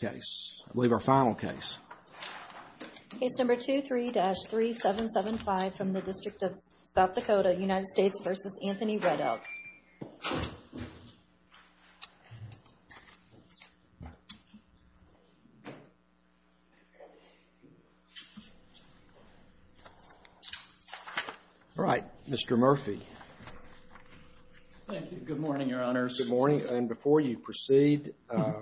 case. I believe our final case. Case number 23-3775 from the District of South Dakota, United States v. Anthony Red Elk. All right. Mr. Murphy. Thank you. Good morning, Your Honor. Good morning. And before you proceed, I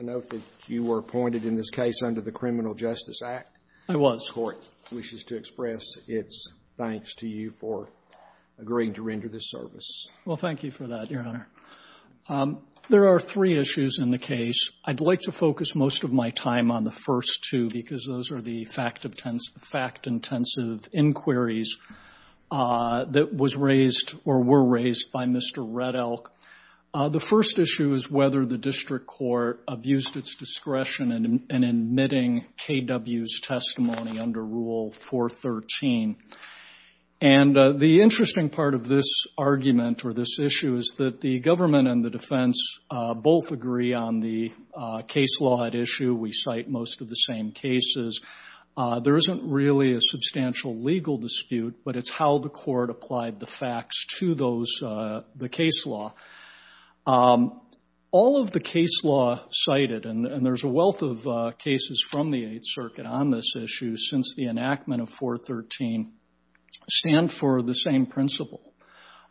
note that you were appointed in this case under the Criminal Justice Act. I was. The court wishes to express its thanks to you for agreeing to render this service. Well, thank you for that, Your Honor. There are three issues in the case. I'd like to focus most of my time on the first two because those are the fact-intensive inquiries that was raised or were raised by Mr. Red Elk. The first issue is whether the district court abused its discretion in admitting KW's testimony under Rule 413. And the interesting part of this argument or this issue is that the government and the defense both agree on the case law at issue. We cite most of the same cases. There isn't really a substantial legal dispute, but it's how the court applied the facts to the case law. All of the case law cited, and there's a wealth of cases from the Eighth Circuit on this issue since the enactment of 413, stand for the same principle,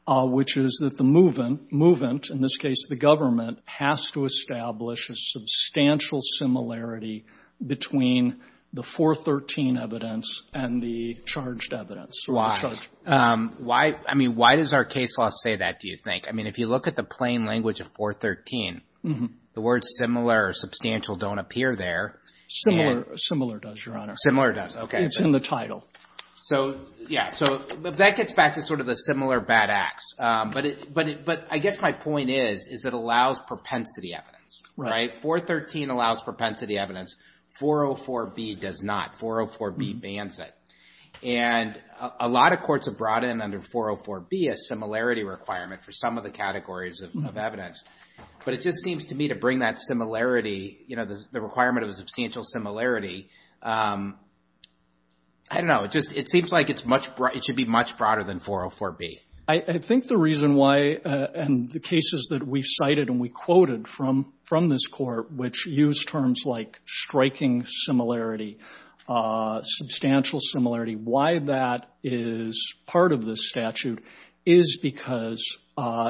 which is that the movant, in this case the government, has to establish a substantial similarity between the 413 evidence and the charged evidence. Why? I mean, why does our case law say that, do you think? I mean, if you look at the plain language of 413, the words similar or substantial don't appear there. Similar does, Your Honor. Similar does. Okay. It's in the title. So, yeah. So, that gets back to sort of the similar bad acts. But I guess my point is, is it allows propensity evidence, right? 413 allows propensity evidence. 404B does not. 404B bans it. And a lot of courts have brought in under 404B a similarity requirement for some of the categories of evidence. But it just seems to me to bring that similarity, you know, the requirement of a substantial similarity. I don't know. It just, it seems like it's much, it should be much broader than 404B. I think the reason why, and the cases that we cited and we quoted from this court, which use terms like striking similarity, substantial similarity, why that is part of this statute is because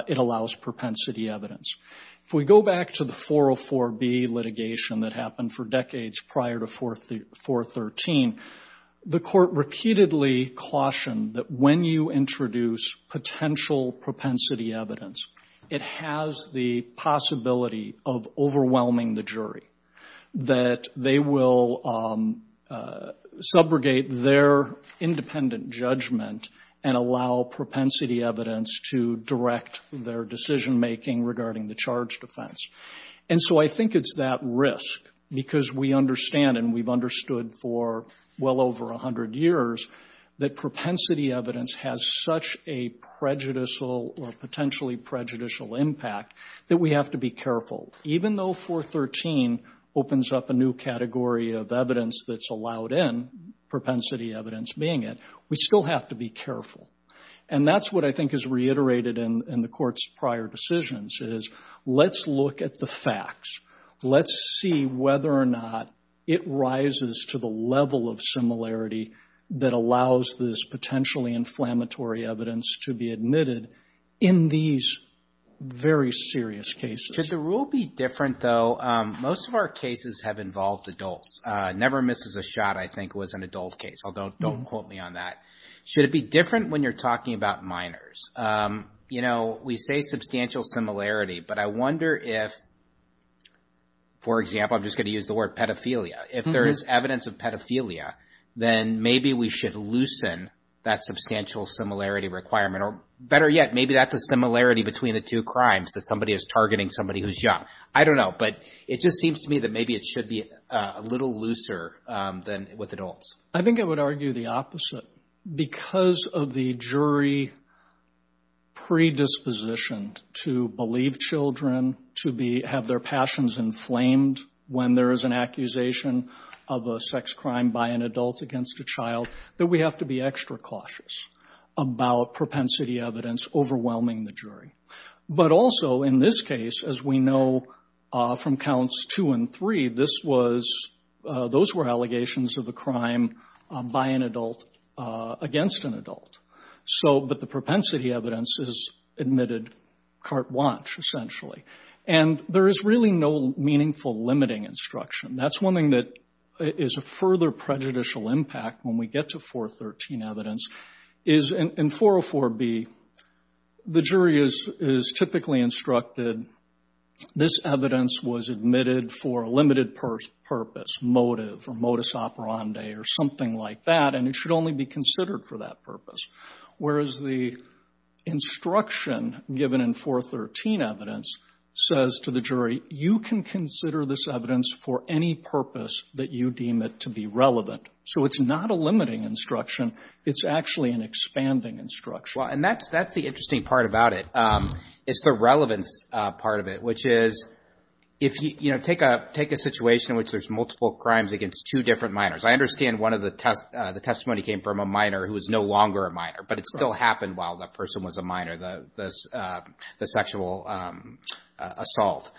it allows propensity evidence. If we go back to the 404B litigation that happened for decades prior to 413, the court repeatedly cautioned that when you introduce potential propensity evidence, it has the possibility of overwhelming the jury, that they will subrogate their independent judgment and allow propensity evidence to direct their decision-making regarding the charge defense. And so I think it's that risk, because we understand and we've understood for well over 100 years that propensity evidence has such a prejudicial or potentially prejudicial impact that we have to be careful. Even though 413 opens up a new category of evidence that's allowed in, propensity evidence being it, we still have to be careful. And that's what I think is reiterated in the court's prior decisions is, let's look at the facts. Let's see whether or not it rises to the level of similarity that allows this potentially inflammatory evidence to be admitted in these very serious cases. Should the rule be different, though? Most of our cases have involved adults. Never Misses a Shot, I think, was an adult case, although don't quote me on that. Should it be different when you're talking about minors? You know, we say substantial similarity, but I wonder if, for example, I'm just going to use the word pedophilia. If there is evidence of pedophilia, then maybe we should loosen that substantial similarity requirement. Or better yet, maybe that's a similarity between the two crimes, that somebody is targeting somebody who's young. I don't know, but it just seems to me that maybe it should be a little looser than with adults. I think I would argue the opposite. Because of the jury predisposition to believe children to have their passions inflamed when there is an accusation of a sex crime by an adult against a child, that we have to be extra cautious about propensity evidence overwhelming the jury. But also, in this case, as we know from Counts 2 and 3, this was — those were allegations of a crime by an adult against an adult. So — but the propensity evidence is admitted carte blanche, essentially. And there is really no meaningful limiting instruction. That's one thing that is a further prejudicial impact when we get to 413 evidence, is in 404B, the jury is typically instructed, this evidence was admitted for a limited purpose, motive, or modus operandi, or something like that, and it should only be considered for that purpose. Whereas the instruction given in 413 evidence says to the jury, you can consider this evidence for any purpose that you deem it to be relevant. So it's not a limiting instruction. It's actually an expanding instruction. Well, and that's — that's the interesting part about it, is the relevance part of it, which is, if you — you know, take a — take a situation in which there's multiple crimes against two different minors. I understand one of the — the testimony came from a minor who is no longer a minor, but it still happened while the person was a minor, the sexual assault.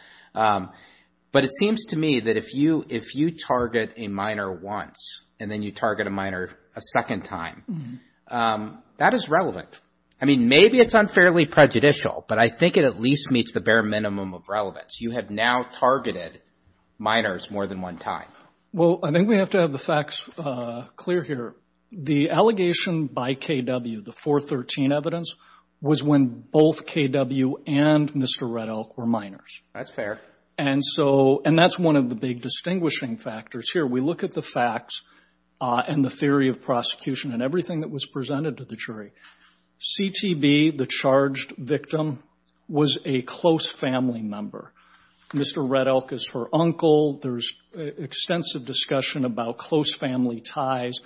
But it seems to me that if you — if you target a minor once, and then you target a minor a second time, that is relevant. I mean, maybe it's unfairly prejudicial, but I think it at least meets the bare minimum of relevance. You have now targeted minors more than one time. Well, I think we have to have the facts clear here. The allegation by KW, the 413 evidence, was when both KW and Mr. Red Elk were minors. That's fair. And so — and that's one of the big distinguishing factors here. We look at the facts and the theory of prosecution and everything that was presented to the jury. CTB, the charged victim, was a close family member. Mr. Red Elk is her uncle. There's extensive discussion about close family ties.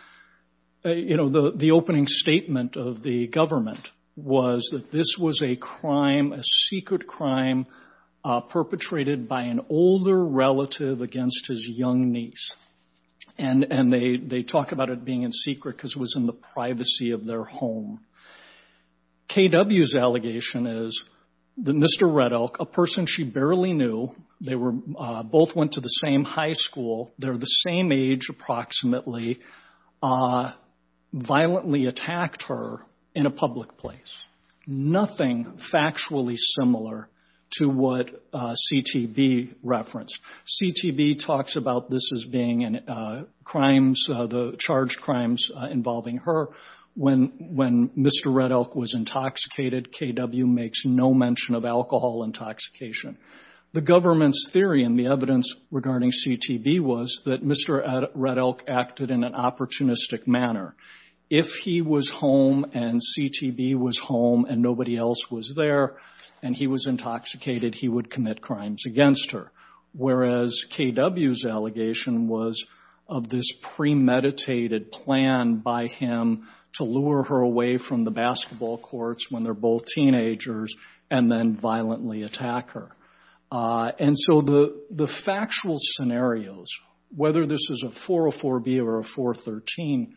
You know, the — the opening statement of the government was that this was a crime, a secret crime, perpetrated by an older relative against his young niece. And they talk about it being in secret because it was in the privacy of their home. KW's allegation is that Mr. Red Elk, a person she barely knew — they were — both went to the same high school, they're the same age approximately — violently attacked her in a public place. Nothing factually similar to what CTB referenced. CTB talks about this as being crimes — the charged crimes involving her. When Mr. Red Elk was intoxicated, KW makes no mention of alcohol intoxication. The government's theory and the evidence regarding CTB was that Mr. Red Elk acted in an opportunistic manner. If he was home and CTB was home and nobody else was there and he was intoxicated, he would commit crimes against her. Whereas KW's allegation was of this premeditated plan by him to lure her away from the basketball courts when they're both teenagers and then violently attack her. And so the factual scenarios, whether this is a 404B or a 413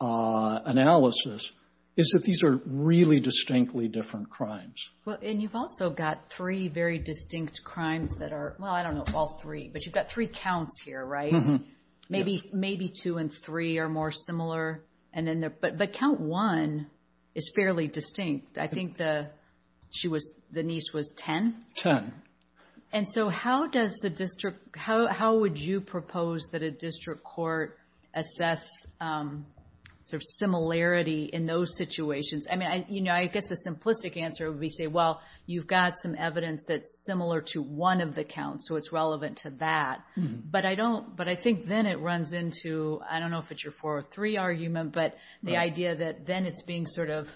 analysis, is that these are really distinctly different crimes. Well, and you've also got three very distinct crimes that are — well, I don't know if all three, but you've got three counts here, right? Maybe two and three are more similar. But count one is fairly distinct. I think the niece was 10? 10. And so how does the district — how would you propose that a district court assess sort of similarity in those situations? I mean, you know, I guess the simplistic answer would be, say, well, you've got some evidence that's similar to one of the counts, so it's relevant to that. But I don't — but I think then it runs into — I don't know if it's your 403 argument, but the idea that then it's being sort of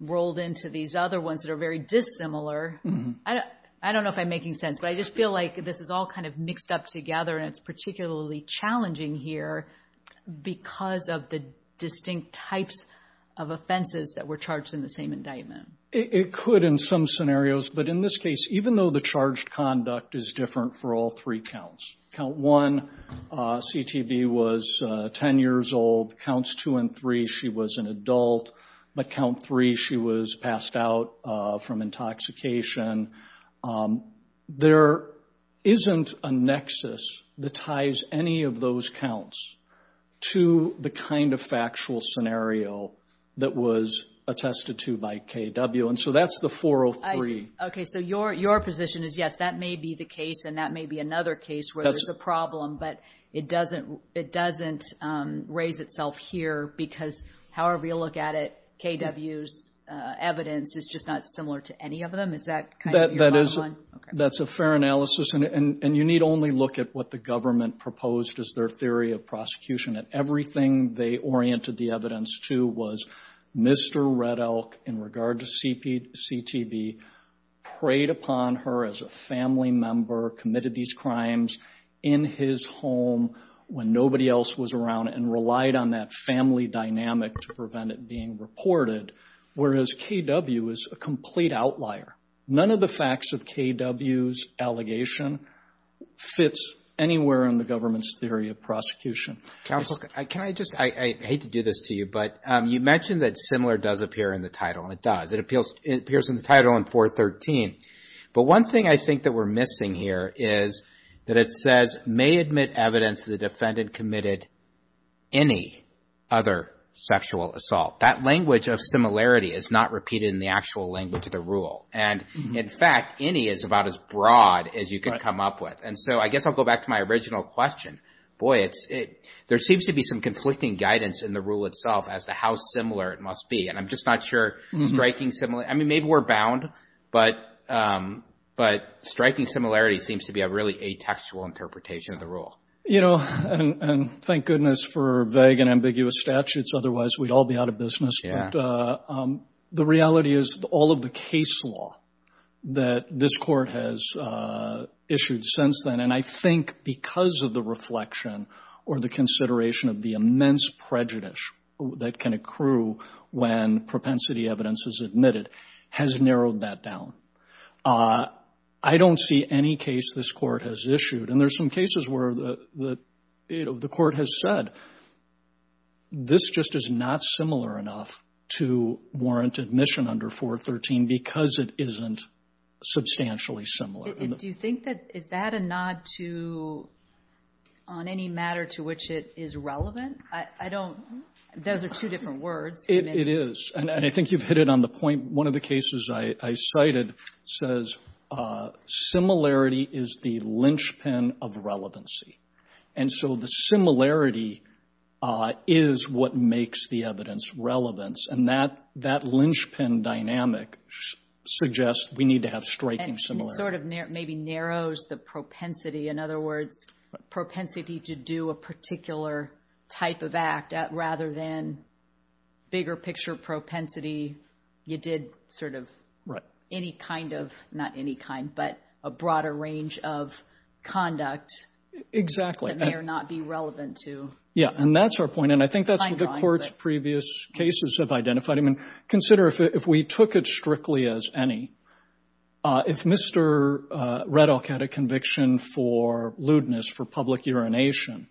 rolled into these other ones that are very dissimilar — I don't know if I'm making sense, but I just feel like this is all kind of mixed up together, and it's particularly challenging here because of the distinct types of offenses that were charged in the same indictment. It could in some scenarios, but in this case, even though the charged conduct is different for all three counts — count one, CTV was 10 years old. Counts two and three, she was an adult, but count three, she was passed out from intoxication. There isn't a nexus that ties any of those counts to the kind of factual scenario that was attested to by KW, and so that's the 403. Okay, so your position is, yes, that may be the case, and that may be another case where there's a problem, but it doesn't raise itself here because however you look at it, KW's evidence is just not similar to any of them? Is that kind of your bottom line? That's a fair analysis, and you need only look at what the government proposed as their theory of prosecution. Everything they oriented the evidence to was Mr. Red Elk, in regard to CTV, preyed upon her as a family member, committed these crimes in his home when nobody else was around, and relied on that family dynamic to prevent it being reported, whereas KW is a complete outlier. None of the facts of KW's allegation fits anywhere in the government's theory of prosecution. Counsel, can I just — I hate to do this to you, but you mentioned that similar does appear in the title, and it does. It appears in the title in 413, but one thing I think that we're missing here is that it says, may admit evidence the defendant committed any other sexual assault. That language of similarity is not repeated in the actual language of the rule, and in fact, any is about as broad as you can come up with, and so I guess I'll go back to my original question. Boy, there seems to be some conflicting guidance in the rule itself as to how similar it must be, and I'm just not sure striking — I mean, maybe we're bound, but striking similarity seems to be a really atextual interpretation of the rule. You know, and thank goodness for vague and ambiguous statutes, otherwise we'd all be out of business, but the reality is all of the case law that this Court has issued since then, and I think because of the reflection or the consideration of the immense prejudice that can accrue when propensity evidence is admitted, has narrowed that down. I don't see any case this Court has issued, and there's some cases where the Court has said, this just is not similar enough to warrant admission under 413 because it isn't substantially similar. Do you think that — is that a nod to — on any matter to which it is relevant? I don't — those are two different words. It is, and I think you've hit it on the point. One of the cases I cited says similarity is the linchpin of relevancy, and so the similarity is what makes the evidence relevant, and that linchpin dynamic suggests we need to have striking similarity. And it sort of maybe narrows the propensity. In other words, propensity to do a particular type of act rather than bigger-picture propensity. You did sort of any kind of — not any kind, but a broader range of conduct that may or not be relevant to — Exactly. Yeah, and that's our point, and I think that's what the Court's previous cases have identified. I mean, consider if we took it strictly as any. If Mr. Reddock had a conviction for lewdness, for public urination,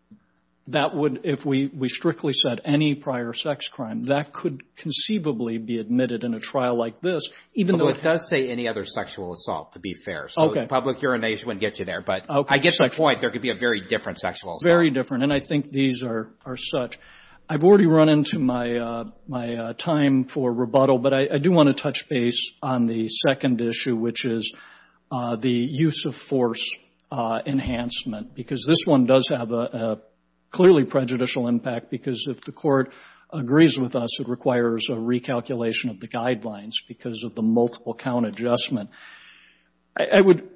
that would — if we strictly said any prior sex crime, that could conceivably be admitted in a trial like this, even though But it does say any other sexual assault, to be fair. Okay. So public urination wouldn't get you there, but I get the point. There could be a very different sexual assault. And I think these are such — I've already run into my time for rebuttal, but I do want to touch base on the second issue, which is the use of force enhancement, because this one does have a clearly prejudicial impact, because if the Court agrees with us, it requires a recalculation of the guidelines because of the multiple-count adjustment. I would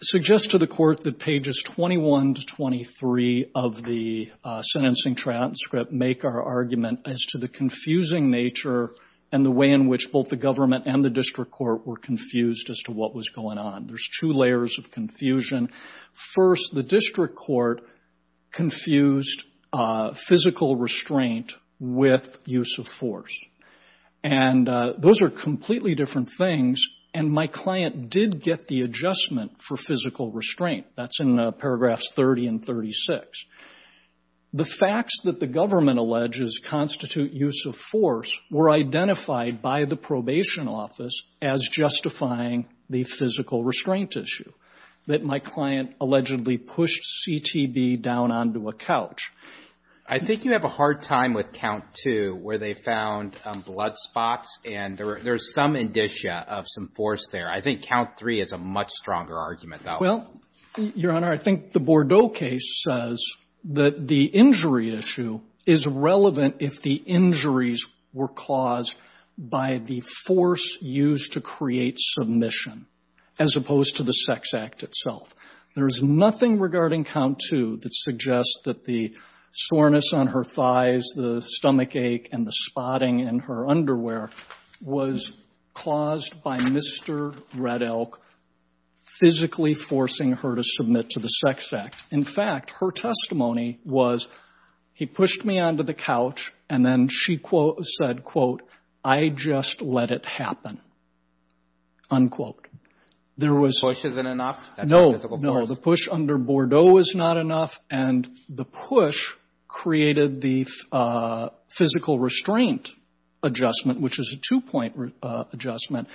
suggest to the Court that pages 21 to 23 of the sentencing transcript make our argument as to the confusing nature and the way in which both the government and the district court were confused as to what was going on. There's two layers of confusion. First, the district court confused physical restraint with use of force. And those are completely different things. And my client did get the adjustment for physical restraint. That's in paragraphs 30 and 36. The facts that the government alleges constitute use of force were identified by the probation office as justifying the physical restraint issue, that my client allegedly pushed CTB down onto a couch. I think you have a hard time with count two, where they found blood spots and there's some indicia of some force there. I think count three is a much stronger argument though. Well, Your Honor, I think the Bordeaux case says that the injury issue is relevant if the injuries were caused by the force used to create submission, as opposed to the sex act itself. There is nothing regarding count two that suggests that the soreness on her thighs, the stomach ache, and the spotting in her underwear was caused by Mr. Red Elk physically forcing her to submit to the sex act. In fact, her testimony was he pushed me onto the couch and then she said, quote, I just let it happen, unquote. There was no, no, the push under Bordeaux was not enough. And the push created the physical restraint adjustment, which is a two-point adjustment.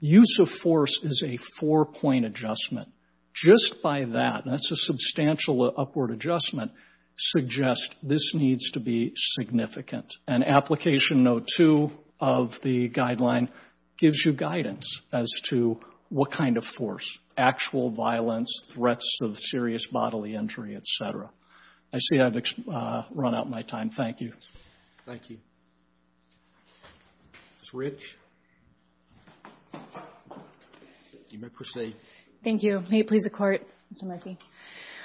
Use of force is a four-point adjustment. Just by that, that's a substantial upward adjustment, suggests this needs to be significant. And application note two of the guideline gives you guidance as to what kind of force, actual violence, threats of serious bodily injury, et cetera. I see I've run out of my time. Thank you. Thank you. Ms. Rich. You may proceed. Thank you. May it please the Court, Mr. Murphy.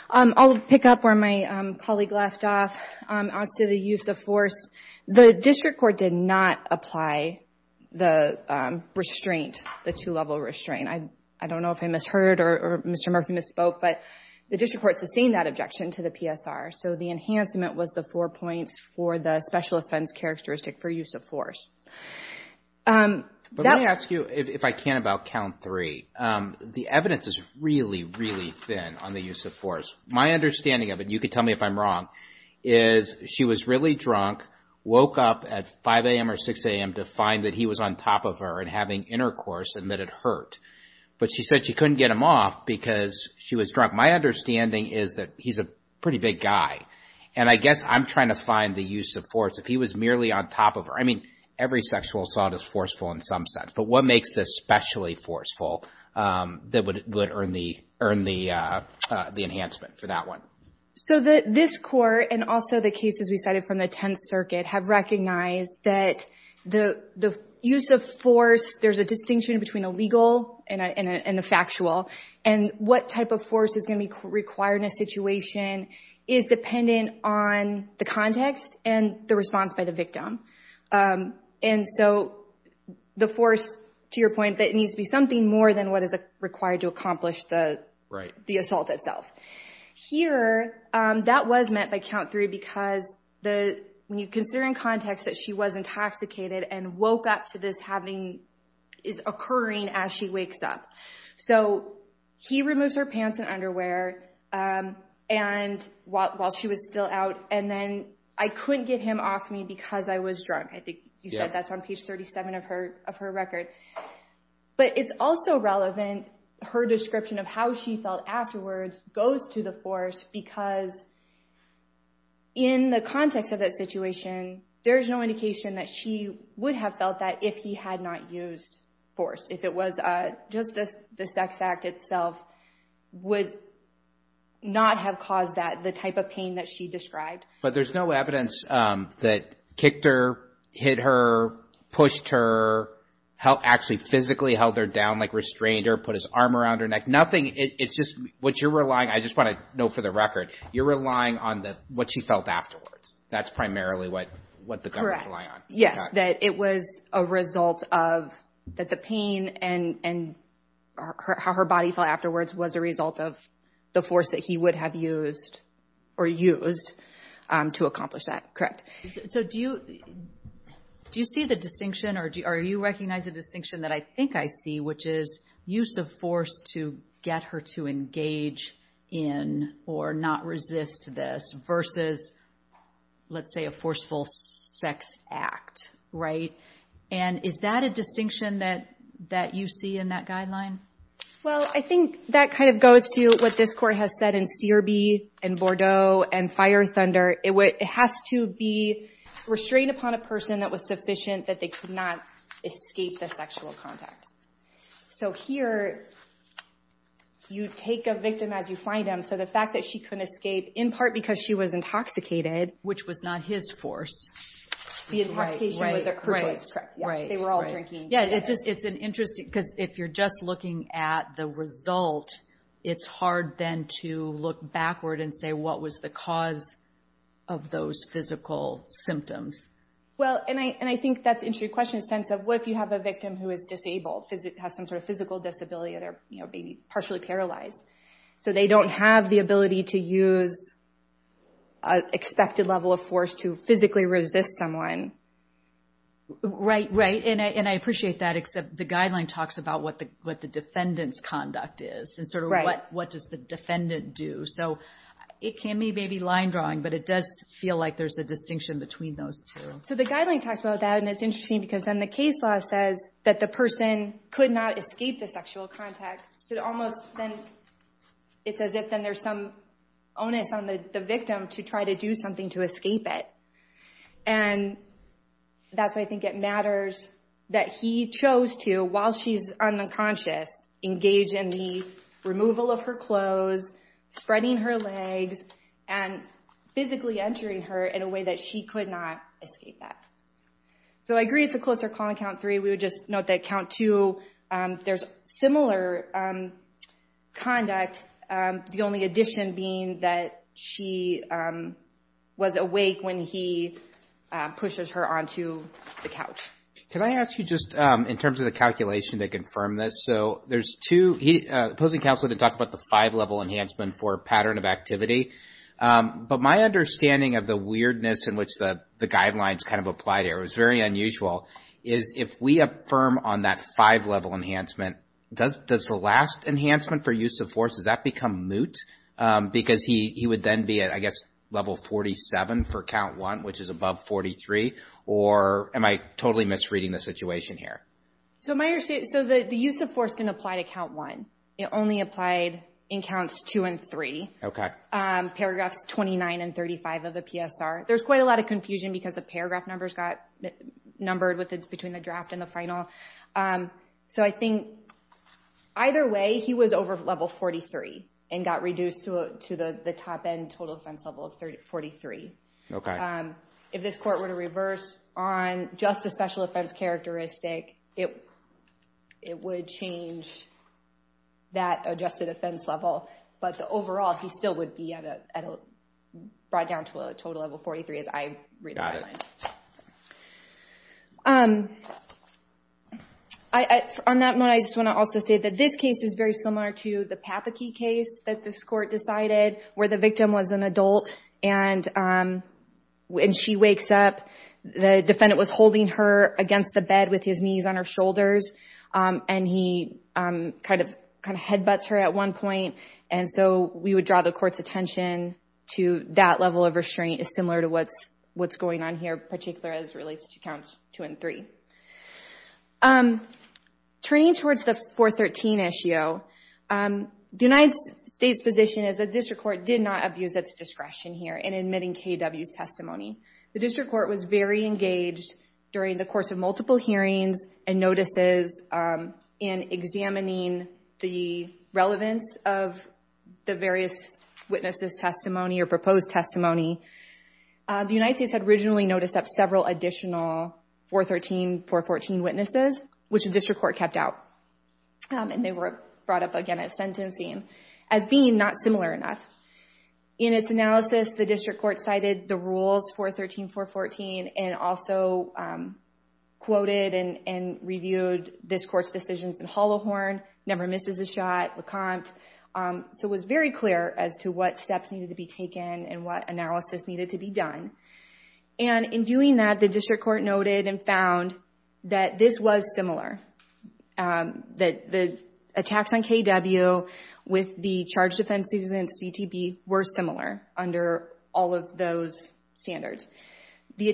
I'll pick up where my colleague left off. As to the use of force, the district court did not apply the restraint, the two-level restraint. I don't know if I misheard or Mr. Murphy misspoke, but the district court sustained that objection to the PSR. So the enhancement was the four points for the special offense characteristic for use of force. But let me ask you, if I can, about count three. The evidence is really, really thin on the use of force. My understanding of it, you could tell me if I'm wrong, is she was really drunk, woke up at 5 a.m. or 6 a.m. to find that he was on top of her and having intercourse and that it hurt. But she said she couldn't get him off because she was drunk. My understanding is that he's a pretty big guy. And I guess I'm trying to find the use of force. If he was merely on top of her, I mean, every sexual assault is forceful in some sense. But what makes this specially forceful that would earn the enhancement for that one? So this Court and also the cases we cited from the Tenth Circuit have recognized that the use of force, there's a distinction between a legal and a factual. And what type of force is going to be required in a situation is dependent on the context and the response by the victim. And so the force, to your point, that needs to be something more than what is required to accomplish the assault itself. Here, that was meant by count three because when you consider in context that she was intoxicated and woke up to this happening, is occurring as she wakes up. So he removes her pants and underwear while she was still out. And then, I couldn't get him off me because I was drunk. I think you said that's on page 37 of her record. But it's also relevant, her description of how she felt afterwards goes to the force because in the context of that situation, there's no indication that she would have felt that if he had not used force. If it was just the sex act itself would not have caused that, the type of pain that she described. But there's no evidence that kicked her, hit her, pushed her, actually physically held her down, like restrained her, put his arm around her neck, nothing. It's just what you're relying, I just want to know for the record, you're relying on what she felt afterwards. That's primarily what the government rely on. Yes, that it was a result of that the pain and how her body felt afterwards was a result of the force that he would have used or used to accomplish that. Correct. So do you see the distinction or do you recognize a distinction that I think I see, which is use of force to get her to engage in or not resist this versus, let's say, a forceful sex act, right? And is that a distinction that you see in that guideline? Well, I think that kind of goes to what this court has said in CRB and Bordeaux and Fire Thunder. It has to be restrained upon a person that was sufficient that they could not escape the sexual contact. So here, you take a victim as you find them. So the fact that she couldn't escape, in part because she was intoxicated. Which was not his force. The intoxication was her choice, correct. They were all drinking. Yeah, it's an interesting, because if you're just looking at the result, it's hard then to look backward and say, what was the cause of those physical symptoms? Well, and I think that's an interesting question, a sense of what if you have a victim who is disabled, has some sort of physical disability or they're partially paralyzed. So they don't have the ability to use an expected level of force to physically resist someone. Right, right. And I appreciate that, except the guideline talks about what the defendant's conduct is and sort of what does the defendant do. So it can be maybe line drawing, but it does feel like there's a distinction between those two. So the guideline talks about that, and it's interesting because then the case law says that the person could not escape the sexual contact. So it's as if then there's some onus on the victim to try to do something to escape it. And that's why I think it matters that he chose to, while she's unconscious, engage in the removal of her clothes, spreading her legs, and physically entering her in a way that she could not escape that. So I agree it's a closer call on count three. We would just note that count two, there's similar conduct, the only addition being that she was awake when he pushes her onto the couch. Can I ask you just in terms of the calculation to confirm this? So there's two, he, opposing counsel didn't talk about the five level enhancement for pattern of activity. But my understanding of the weirdness in which the guidelines kind of applied here, it was very unusual, is if we affirm on that five level enhancement, does the last enhancement for use of force, does that become moot? Because he would then be at, I guess, level 47 for count one, which is above 43, or am I totally misreading the situation here? So the use of force can apply to count one. It only applied in counts two and three. Paragraphs 29 and 35 of the PSR. There's quite a lot of confusion because the paragraph numbers got numbered between the draft and the final. So I think either way, he was over level 43, and got reduced to the top end total offense level of 43. If this court were to reverse on just the special offense characteristic, it would change that adjusted offense level. But the overall, he still would be brought down to a total level 43, as I read the guidelines. On that note, I just want to also say that this case is very similar to the Papakee case that this court decided, where the victim was an adult. And when she wakes up, the defendant was holding her against the bed with his knees on her shoulders. And he kind of headbutts her at one point, and so we would draw the court's attention to that level of restraint is similar to what's going on here, particularly as it relates to counts two and three. Turning towards the 413 issue, the United States' position is the district court did not abuse its discretion here in admitting KW's testimony. The district court was very engaged during the course of multiple hearings and notices in examining the record of KW's relevance of the various witnesses' testimony or proposed testimony. The United States had originally noticed that several additional 413, 414 witnesses, which the district court kept out. And they were brought up again at sentencing as being not similar enough. In its analysis, the district court cited the rules 413, 414, and also quoted and reviewed this court's decisions in Holohorn, Never Misses a Shot, LeCompte. So it was very clear as to what steps needed to be taken and what analysis needed to be done. And in doing that, the district court noted and found that this was similar, that the attacks on KW with the charged offenses and CTB were similar under all of those standards. The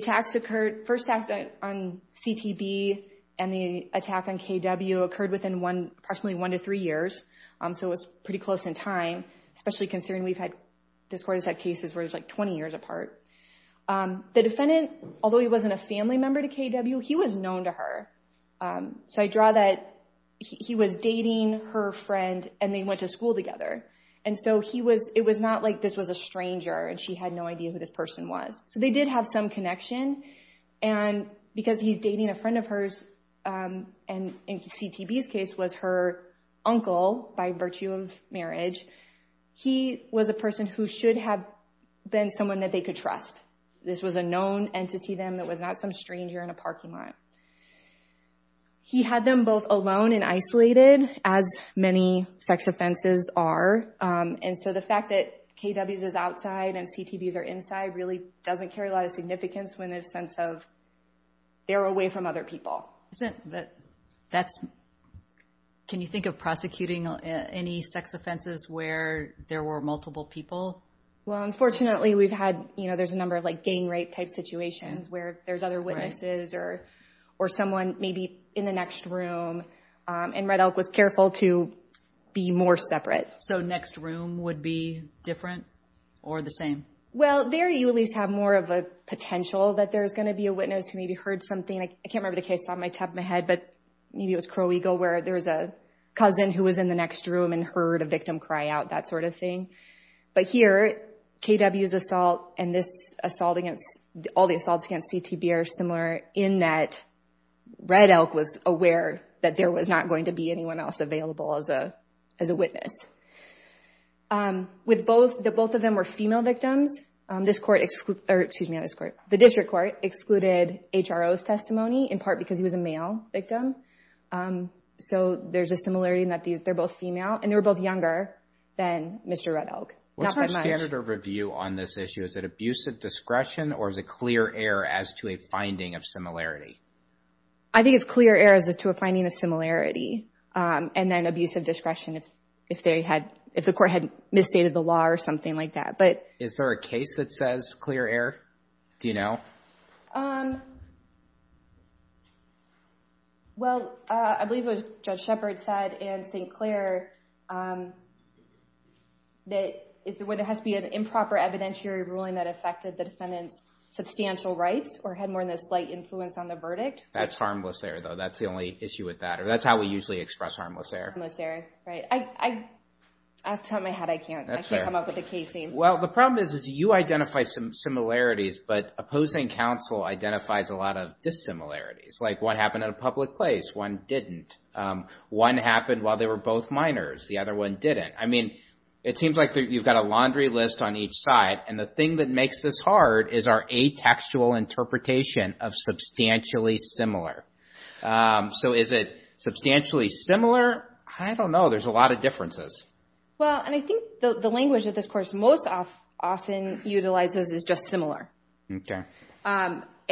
first attacks on CTB and the attack on KW occurred within approximately one to three years. So it was pretty close in time, especially considering we've had this court has had cases where it was like 20 years apart. The defendant, although he wasn't a family member to KW, he was known to her. So I draw that he was dating her friend and they went to school together. And so it was not like this was a stranger and she had no idea who this person was. So they did have some connection. And because he's dating a friend of hers, and in CTB's case was her uncle by virtue of marriage, he was a person who should have been someone that they could trust. This was a known entity then that was not some stranger in a parking lot. He had them both alone and isolated, as many sex offenses are. And so the fact that KWs is outside and CTBs are inside really doesn't carry a lot of significance when there's sense of they're away from other people. Can you think of prosecuting any sex offenses where there were multiple people? Well, unfortunately we've had, you know, there's a number of like gang rape type situations where there's other witnesses or someone maybe in the next room. And Red Elk was careful to be more separate. So next room would be different or the same? Well, there you at least have more of a potential that there's going to be a witness who maybe heard something. I can't remember the case off the top of my head, but maybe it was Crow Eagle where there was a cousin who was in the next room and heard a victim cry out, that sort of thing. But here, KW's assault and this assault against, all the assaults against CTB are similar in that Red Elk was aware that there was not going to be anyone else available as a witness. With both, that both of them were female victims, this court excluded, or excuse me, this court, the district court excluded HRO's testimony in part because he was a male victim. So there's a similarity in that they're both female and they're both younger than Mr. Red Elk. What's the standard of review on this issue? Is it abusive discretion or is it clear air as to a finding of similarity? I think it's clear air as to a finding of similarity. And then abusive discretion if they had, if the court had misstated the law or something like that. Is there a case that says clear air? Do you know? Well, I believe it was Judge Shepard said and St. Clair that there has to be an improper evidentiary ruling that affected the defendant's substantial rights or had more than a slight influence on the verdict. That's harmless air though. That's the only issue with that. Or that's how we usually express harmless air. Harmless air, right. I, I, off the top of my head, I can't, I can't come up with a case name. Well, the problem is, is you identify some similarities, but opposing counsel identifies a lot of dissimilarities. Like what happened at a public place? One didn't. One happened while they were both minors. The other one didn't. I mean, it seems like you've got a laundry list on each side. And the thing that makes this hard is our atextual interpretation of substantially similar. So is it substantially similar? I don't know. There's a lot of differences. Well, and I think the language of this course most often utilizes is just similar. Okay.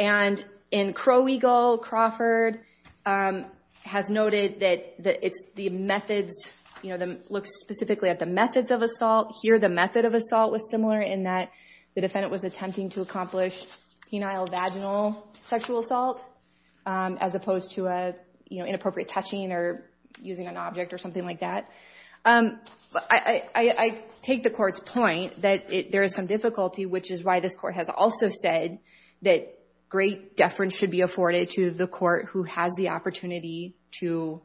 And in Crow Eagle, Crawford has noted that it's the methods, you know, looks specifically at the methods of assault. Here, the method of assault was similar in that the defendant was attempting to accomplish penile vaginal sexual assault as opposed to a, you know, inappropriate touching or using an object or something like that. I take the court's point that there is some difficulty, which is why this court has also said that great deference should be afforded to the court who has the opportunity to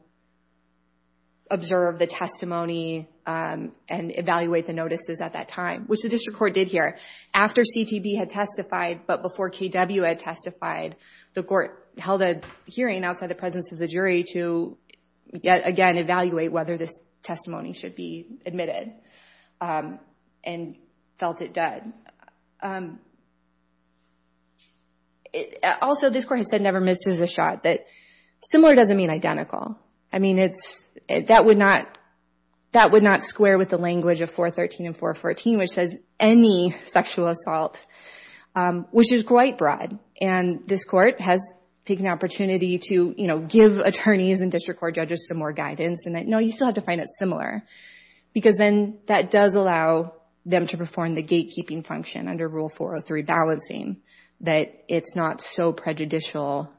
observe the testimony and evaluate the notices at that time, which the district court did here. After CTB had testified, but before KW had testified, the court held a hearing outside the presence of the jury to, again, evaluate whether this testimony should be admitted and felt it done. Also this court has said never misses a shot. That similar doesn't mean identical. I mean, that would not square with the language of 413 and 414, which says any sexual assault, which is quite broad. And this court has taken the opportunity to, you know, give attorneys and district court judges some more guidance and that, no, you still have to find it similar because then that does allow them to perform the gatekeeping function under Rule 403 balancing that it's not so prejudicial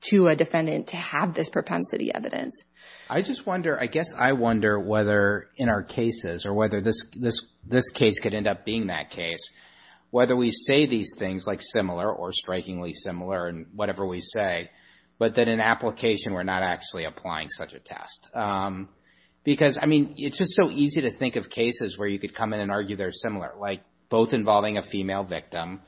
to a defendant to have this propensity evidence. I just wonder, I guess I wonder whether in our cases or whether this case could end up being that case, whether we say these things like similar or strikingly similar in whatever we say, but that in application we're not actually applying such a test. Because, I mean, it's just so easy to think of cases where you could come in and argue they're similar, like both involving a female victim,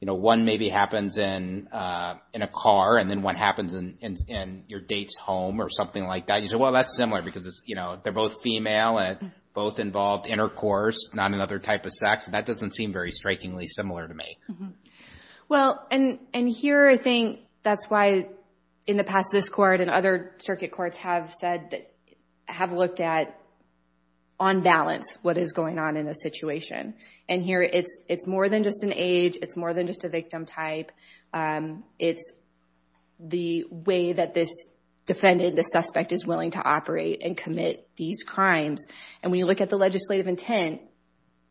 you know, one maybe happens in a car and then one happens in your date's home or something like that. You say, well, that's similar because it's, you know, they're both female and both involved intercourse, not another type of sex. And that doesn't seem very strikingly similar to me. Well, and here I think that's why in the past this court and other circuit courts have said that, have looked at on balance what is going on in a situation. And here it's more than just an age, it's more than just a victim type, it's the way that this defendant, this suspect is willing to operate and commit these crimes. And when you look at the legislative intent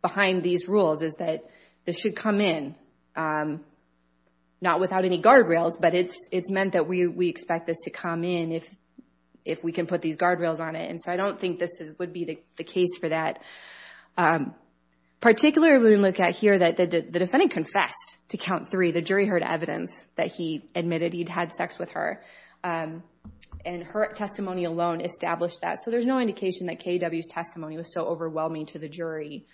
behind these rules is that this should come in, not without any guardrails, but it's been put these guardrails on it. And so I don't think this would be the case for that. Particularly when you look at here that the defendant confessed to count three, the jury heard evidence that he admitted he'd had sex with her. And her testimony alone established that. So there's no indication that K.W.'s testimony was so overwhelming to the jury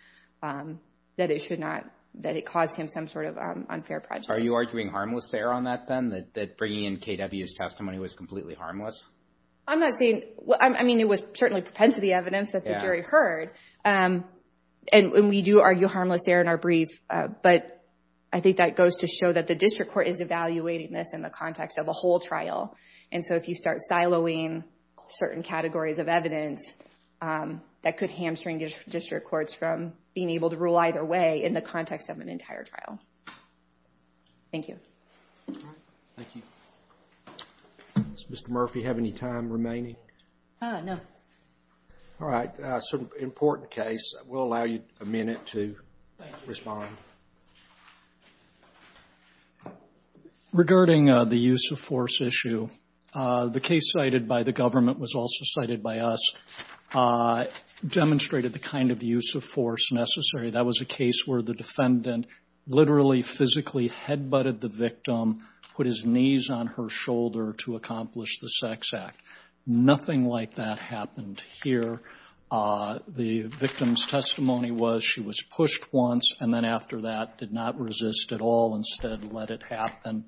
that it should not, that it caused him some sort of unfair prejudice. Are you arguing harmless there on that then, that bringing in K.W.'s testimony was completely harmless? I'm not saying, I mean it was certainly propensity evidence that the jury heard. And we do argue harmless there in our brief. But I think that goes to show that the district court is evaluating this in the context of a whole trial. And so if you start siloing certain categories of evidence, that could hamstring district courts from being able to rule either way in the context of an entire trial. Thank you. Thank you. Does Mr. Murphy have any time remaining? No. All right. So an important case. We'll allow you a minute to respond. Regarding the use of force issue, the case cited by the government was also cited by us, demonstrated the kind of use of force necessary. That was a case where the defendant literally physically head-butted the victim, put his knees on her shoulder to accomplish the sex act. Nothing like that happened here. The victim's testimony was she was pushed once and then after that did not resist at all, instead let it happen.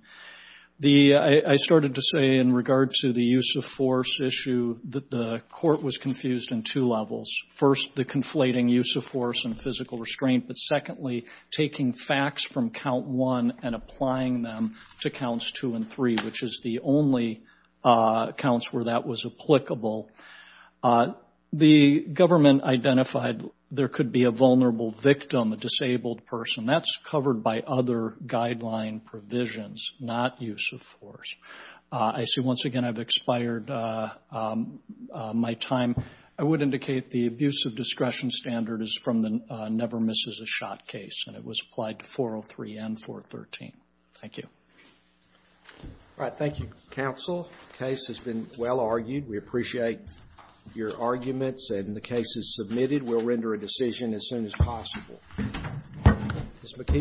I started to say in regard to the use of force issue that the court was confused in two levels. First, the conflating use of force and physical restraint. But secondly, taking facts from count one and applying them to counts two and three, which is the only counts where that was applicable. The government identified there could be a vulnerable victim, a disabled person. That's covered by other guideline provisions, not use of force. I see once again I've expired my time. I would indicate the abuse of discretion standard is from the never misses a shot case and it was applied to 403 and 413. Thank you. Thank you, counsel. The case has been well argued. We appreciate your arguments and the case is submitted. We'll render a decision as soon as possible.